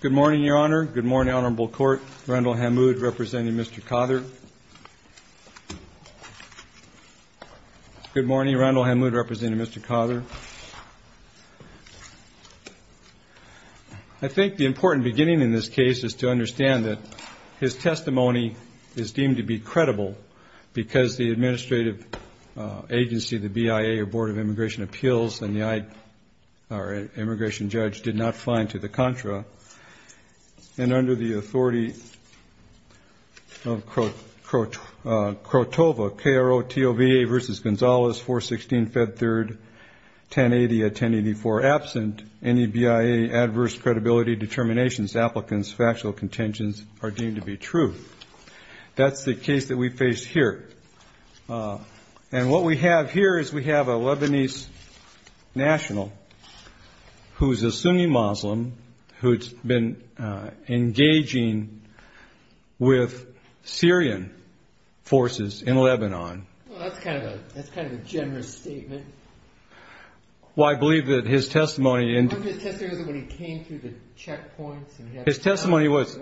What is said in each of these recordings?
Good morning, Your Honor. Good morning, Honorable Court. Randall Hammoud, representing Mr. Cother. Good morning. Randall Hammoud, representing Mr. Cother. I think the important beginning in this case is to understand that his testimony is deemed to be credible because the administrative agency, the BIA, or Board of Immigration Appeals, and the immigration judge, did not find to the contra. And under the authority of Krotova, K-R-O-T-O-V-A v. Gonzales, 416 Fed 3rd, 1080 at 1084 absent, any BIA adverse credibility determinations, applicants, factual contingents are deemed to be true. That's the case that we face here. And what we have here is we have a Lebanese national who's a Sunni Muslim who's been engaging with Syrian forces in Lebanon. Well, that's kind of a generous statement. Well, I believe that his testimony... His testimony was...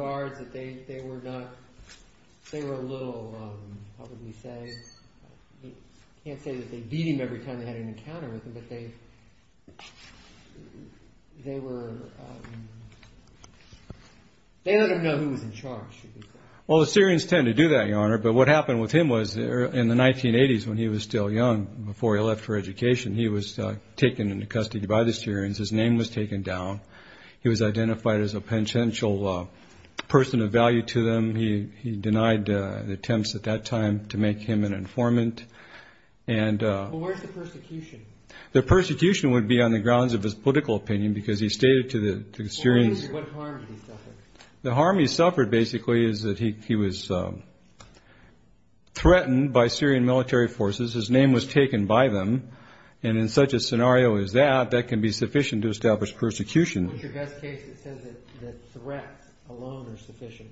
Well, the Syrians tend to do that, Your Honor. But what happened with him was in the 1980s when he was still young, before he left for education, he was taken into custody by the Syrians. His name was taken down. He was identified as a penchantial person of value to them. He denied attempts at that time to make him an informant. Well, where's the persecution? The persecution would be on the grounds of his political opinion because he stated to the Syrians... Well, what harm did he suffer? The harm he suffered, basically, is that he was threatened by Syrian military forces. His name was taken by them. And in such a scenario as that, that can be sufficient to establish persecution. What's your best case that says that threats alone are sufficient?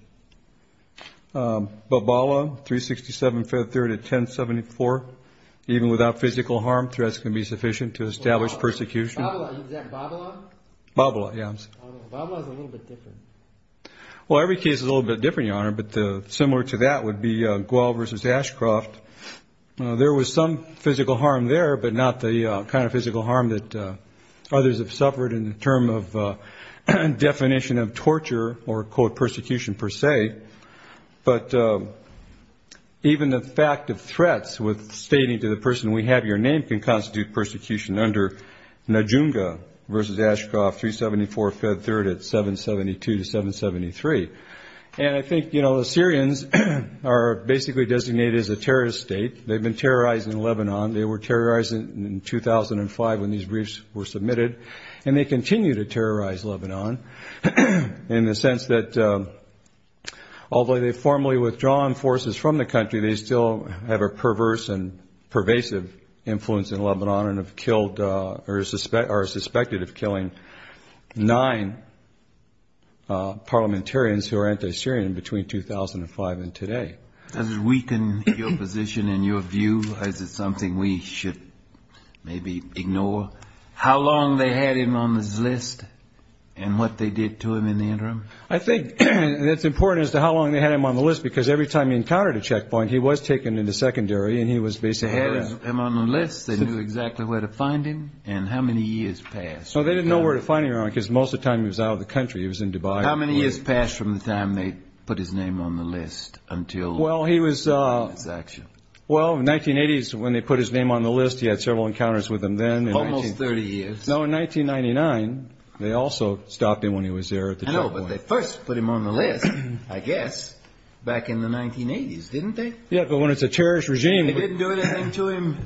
Babila, 367 Feb. 3rd at 1074. Even without physical harm, threats can be sufficient to establish persecution. Is that Babila? Babila, yes. Babila's a little bit different. Well, every case is a little bit different, Your Honor. But similar to that would be Gual versus Ashcroft. There was some physical harm there, but not the kind of physical harm that others have suffered in the term of definition of torture or, quote, persecution per se. But even the fact of threats with stating to the person, we have your name, can constitute persecution under Najunga versus Ashcroft, 374 Feb. 3rd at 772 to 773. And I think, you know, the Syrians are basically designated as a terrorist state. They've been terrorizing Lebanon. They were terrorizing in 2005 when these briefs were submitted. And they continue to terrorize Lebanon in the sense that although they formally withdraw forces from the country, they still have a perverse and pervasive influence in Lebanon and have killed or are suspected of killing nine parliamentarians who are anti-Syrian between 2005 and today. Does it weaken your position and your view? Is it something we should maybe ignore? How long they had him on this list and what they did to him in the interim? I think that's important as to how long they had him on the list, because every time he encountered a checkpoint, he was taken into secondary and he was basically... They knew exactly where to find him and how many years passed. So they didn't know where to find him because most of the time he was out of the country. He was in Dubai. How many years passed from the time they put his name on the list until his action? Well, in the 1980s, when they put his name on the list, he had several encounters with them then. Almost 30 years. No, in 1999, they also stopped him when he was there at the checkpoint. I know, but they first put him on the list, I guess, back in the 1980s, didn't they? Yeah, but when it's a terrorist regime... Then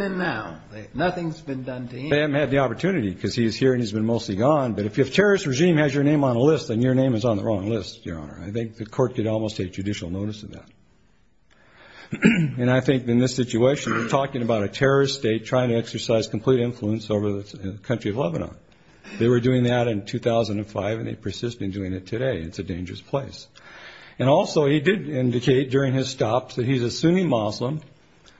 and now, nothing's been done to him. They haven't had the opportunity because he's here and he's been mostly gone. But if a terrorist regime has your name on a list, then your name is on the wrong list, Your Honor. I think the court could almost take judicial notice of that. And I think in this situation, we're talking about a terrorist state trying to exercise complete influence over the country of Lebanon. They were doing that in 2005 and they persist in doing it today. It's a dangerous place. And also, he did indicate during his stops that he's a Sunni Muslim.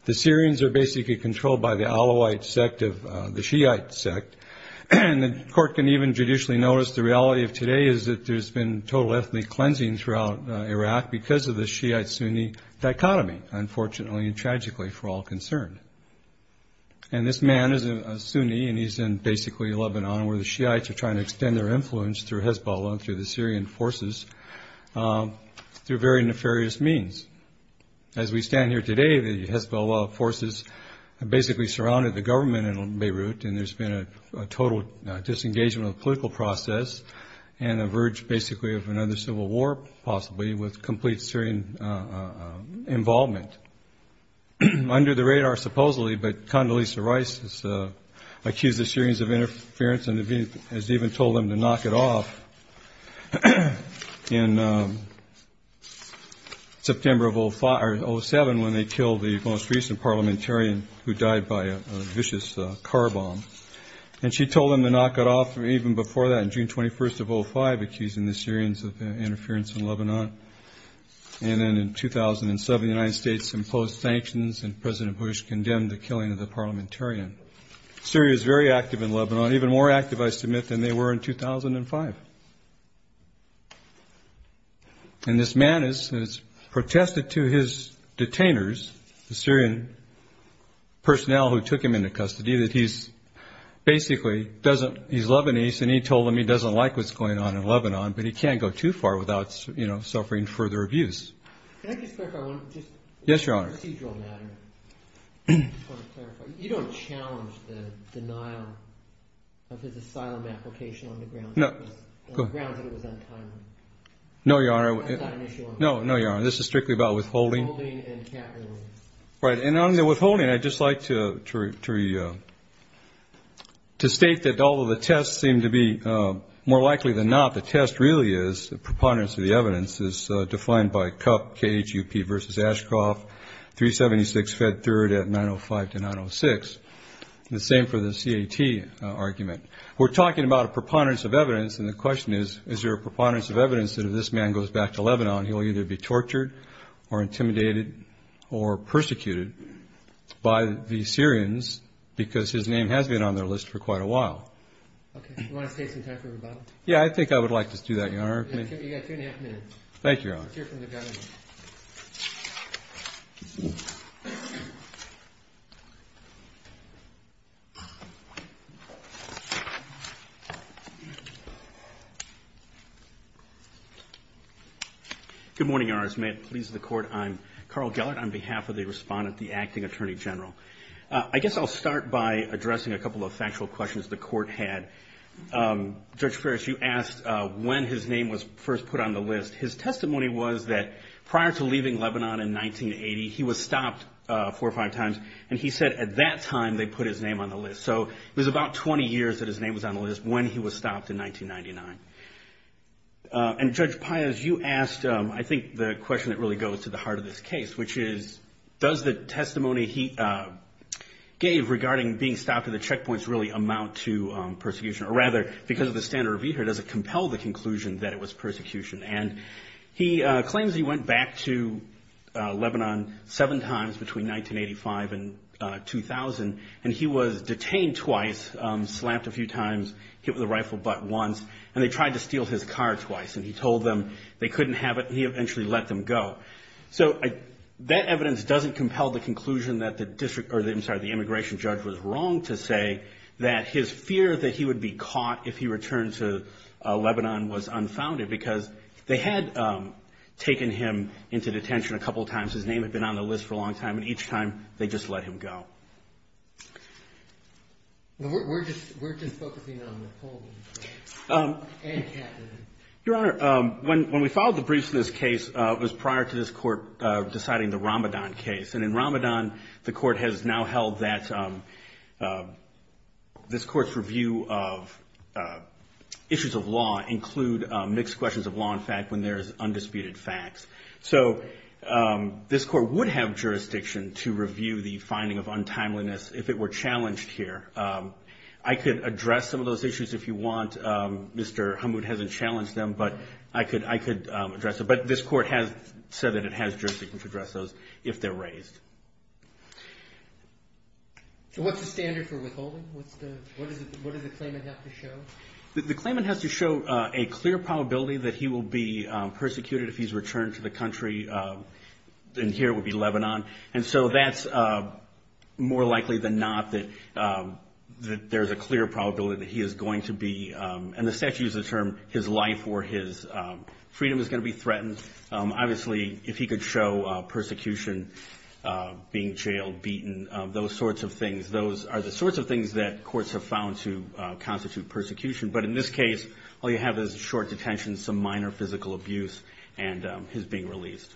The Syrians are basically controlled by the Alawite sect of the Shiite sect. And the court can even judicially notice the reality of today is that there's been total ethnic cleansing throughout Iraq because of the Shiite-Sunni dichotomy, unfortunately and tragically for all concerned. And this man is a Sunni and he's in basically Lebanon, where the Shiites are trying to extend their influence through Hezbollah and through the Syrian forces through very nefarious means. As we stand here today, the Hezbollah forces basically surrounded the government in Beirut and there's been a total disengagement of the political process and a verge basically of another civil war possibly with complete Syrian involvement. Under the radar supposedly, but Condoleezza Rice has accused the Syrians of interference and has even told them to knock it off in September of 2007 when they killed the most recent parliamentarian who died by a vicious car bomb. And she told them to knock it off even before that in June 21st of 2005, accusing the Syrians of interference in Lebanon. And then in 2007, the United States imposed sanctions and President Bush condemned the killing of the parliamentarian. Syria is very active in Lebanon, even more active, I submit, than they were in 2005. And this man has protested to his detainers, the Syrian personnel who took him into custody, that he's Lebanese and he told them he doesn't like what's going on in Lebanon, but he can't go too far without suffering further abuse. Yes, Your Honor. You don't challenge the denial of his asylum application on the grounds that it was untimely? No, Your Honor. That's not an issue. No, Your Honor. This is strictly about withholding. Withholding and capitalism. Right. And on the withholding, I'd just like to state that although the tests seem to be more likely than not, the test really is the preponderance of the evidence is defined by CUP, K-H-U-P versus Ashcroft, 376 Fed 3rd at 905 to 906. The same for the C-A-T argument. We're talking about a preponderance of evidence, and the question is, is there a preponderance of evidence that if this man goes back to Lebanon, he'll either be tortured or intimidated or persecuted by the Syrians, because his name has been on their list for quite a while? Okay. Do you want to take some time for rebuttal? Yeah, I think I would like to do that, Your Honor. You've got two and a half minutes. Thank you, Your Honor. Let's hear from the government. Good morning, Your Honors. May it please the Court, I'm Carl Gellert on behalf of the Respondent, the Acting Attorney General. I guess I'll start by addressing a couple of factual questions the Court had. Judge Ferris, you asked when his name was first put on the list. His testimony was that prior to leaving Lebanon in 1980, he was stopped four or five times, and he said at that time they put his name on the list. So it was about 20 years that his name was on the list when he was stopped in 1999. And, Judge Pius, you asked, I think, the question that really goes to the heart of this case, which is, does the testimony he gave regarding being stopped at the checkpoints really amount to persecution? Or rather, because of the standard review here, does it compel the conclusion that it was persecution? And he claims he went back to Lebanon seven times between 1985 and 2000, and he was detained twice, slapped a few times, hit with a rifle butt once, and they tried to steal his car twice. And he told them they couldn't have it, and he eventually let them go. So that evidence doesn't compel the conclusion that the district or, I'm sorry, the immigration judge was wrong to say that his fear that he would be caught if he returned to Lebanon was unfounded, because they had taken him into detention a couple of times. His name had been on the list for a long time, and each time they just let him go. We're just focusing on Napoleon and Catherine. Your Honor, when we filed the briefs in this case, it was prior to this Court deciding the Ramadan case. And in Ramadan, the Court has now held that this Court's review of issues of law include mixed questions of law and fact when there is undisputed facts. So this Court would have jurisdiction to review the finding of untimeliness if it were challenged here. I could address some of those issues if you want. Mr. Hammoud hasn't challenged them, but I could address them. But this Court has said that it has jurisdiction to address those if they're raised. So what's the standard for withholding? What does the claimant have to show? The claimant has to show a clear probability that he will be persecuted if he's returned to the country, and here it would be Lebanon. And so that's more likely than not that there's a clear probability that he is going to be and the statute uses the term his life or his freedom is going to be threatened. Obviously, if he could show persecution, being jailed, beaten, those sorts of things, those are the sorts of things that courts have found to constitute persecution. But in this case, all you have is a short detention, some minor physical abuse, and his being released.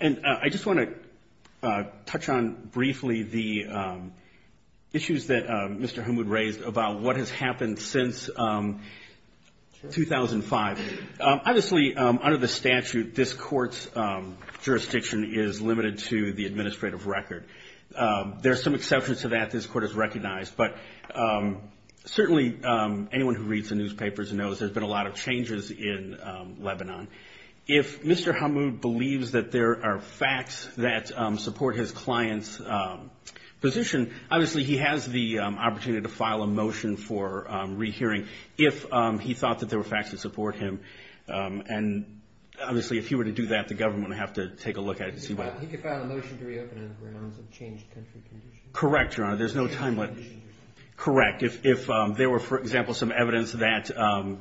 And I just want to touch on briefly the issues that Mr. Hammoud raised about what has happened since 2005. Obviously, under the statute, this Court's jurisdiction is limited to the administrative record. There are some exceptions to that this Court has recognized, but certainly anyone who reads the newspapers knows there's been a lot of changes in Lebanon. If Mr. Hammoud believes that there are facts that support his client's position, obviously he has the opportunity to file a motion for rehearing if he thought that there were facts that support him. And obviously, if he were to do that, the government would have to take a look at it to see what happens. He could file a motion to reopen it if we're known to have changed country conditions. Correct, Your Honor. There's no time limit. Correct. If there were, for example, some evidence that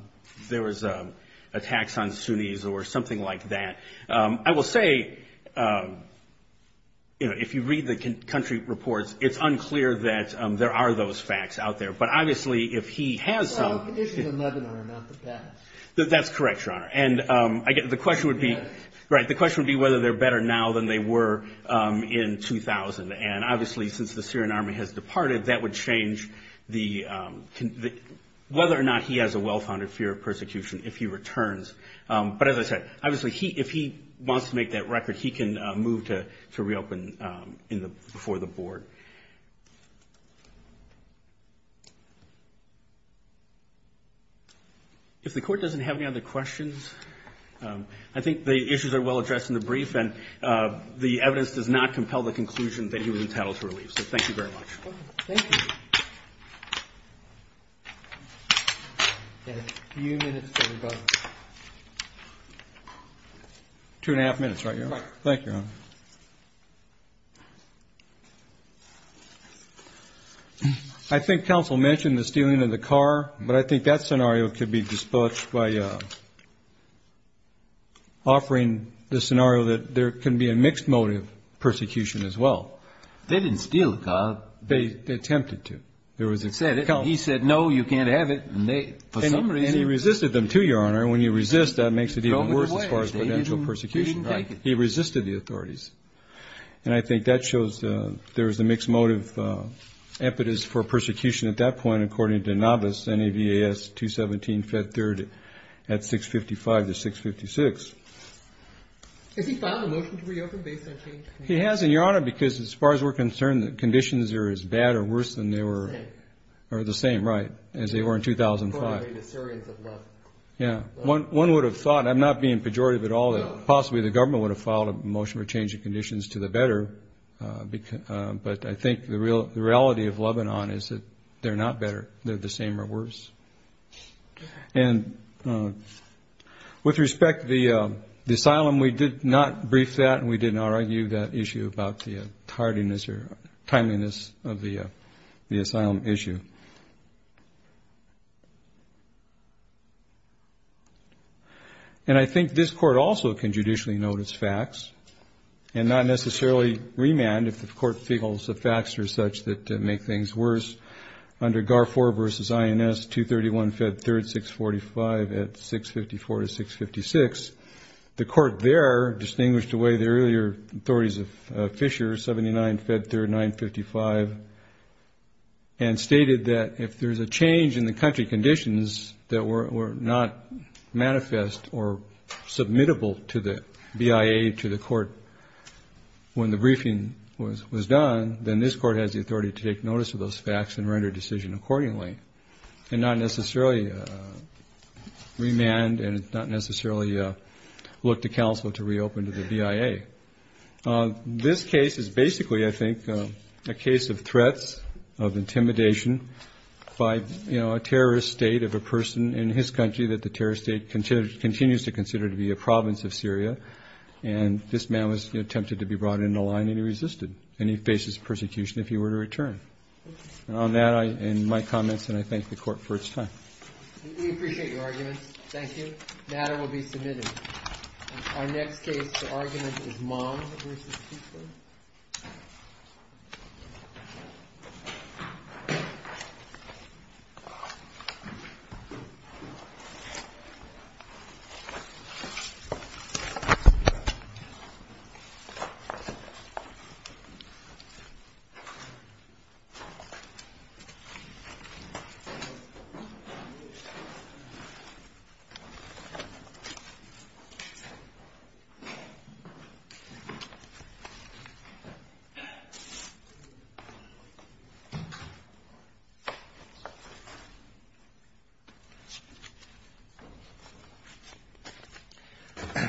there was attacks on Sunnis or something like that, I will say if you read the country reports, it's unclear that there are those facts out there. But obviously, if he has some— Well, the conditions in Lebanon are not the facts. That's correct, Your Honor. The question would be whether they're better now than they were in 2000. And obviously, since the Syrian army has departed, that would change whether or not he has a well-founded fear of persecution if he returns. But as I said, obviously, if he wants to make that record, he can move to reopen before the board. If the Court doesn't have any other questions, I think the issues are well addressed in the brief, and the evidence does not compel the conclusion that he was entitled to relief. So thank you very much. Thank you. We have a few minutes before we go. Two and a half minutes, right, Your Honor? Correct. Thank you, Your Honor. I think counsel mentioned the stealing of the car, but I think that scenario could be dispatched by offering the scenario that there can be a mixed motive persecution as well. They didn't steal the car. They attempted to. He said, no, you can't have it. And he resisted them, too, Your Honor. And when you resist, that makes it even worse as far as potential persecution. He didn't take it. And I think that shows there is a mixed motive impetus for persecution at that point, according to Novice NAVAS 217 Fed Third at 655 to 656. Has he filed a motion to reopen based on change? He hasn't, Your Honor, because as far as we're concerned, the conditions are as bad or worse than they were. Or the same, right, as they were in 2005. One would have thought, I'm not being pejorative at all, that possibly the government would have filed a motion for a change in conditions to the better. But I think the reality of Lebanon is that they're not better. They're the same or worse. And with respect to the asylum, we did not brief that, and we did not argue that issue about the tardiness or timeliness of the asylum issue. And I think this Court also can judicially notice facts and not necessarily remand if the Court feels the facts are such that make things worse. Under Garford v. INS 231 Fed Third, 645 at 654 to 656, the Court there distinguished away the earlier authorities of Fisher, 79 Fed Third, 955, and stated that if there's a change in the country conditions that were not manifest or submittable to the BIA to the Court when the briefing was done, then this Court has the authority to take notice of those facts and render a decision accordingly, and not necessarily remand and not necessarily look to counsel to reopen to the BIA. This case is basically, I think, a case of threats of intimidation by, you know, a terrorist state of a person in his country that the terrorist state continues to consider to be a province of Syria. And this man was tempted to be brought in the line, and he resisted, and he faces persecution if he were to return. And on that and my comments, and I thank the Court for its time. Thank you. The matter will be submitted. Our next case to argument is Mahmoud v. Fisher. Thank you.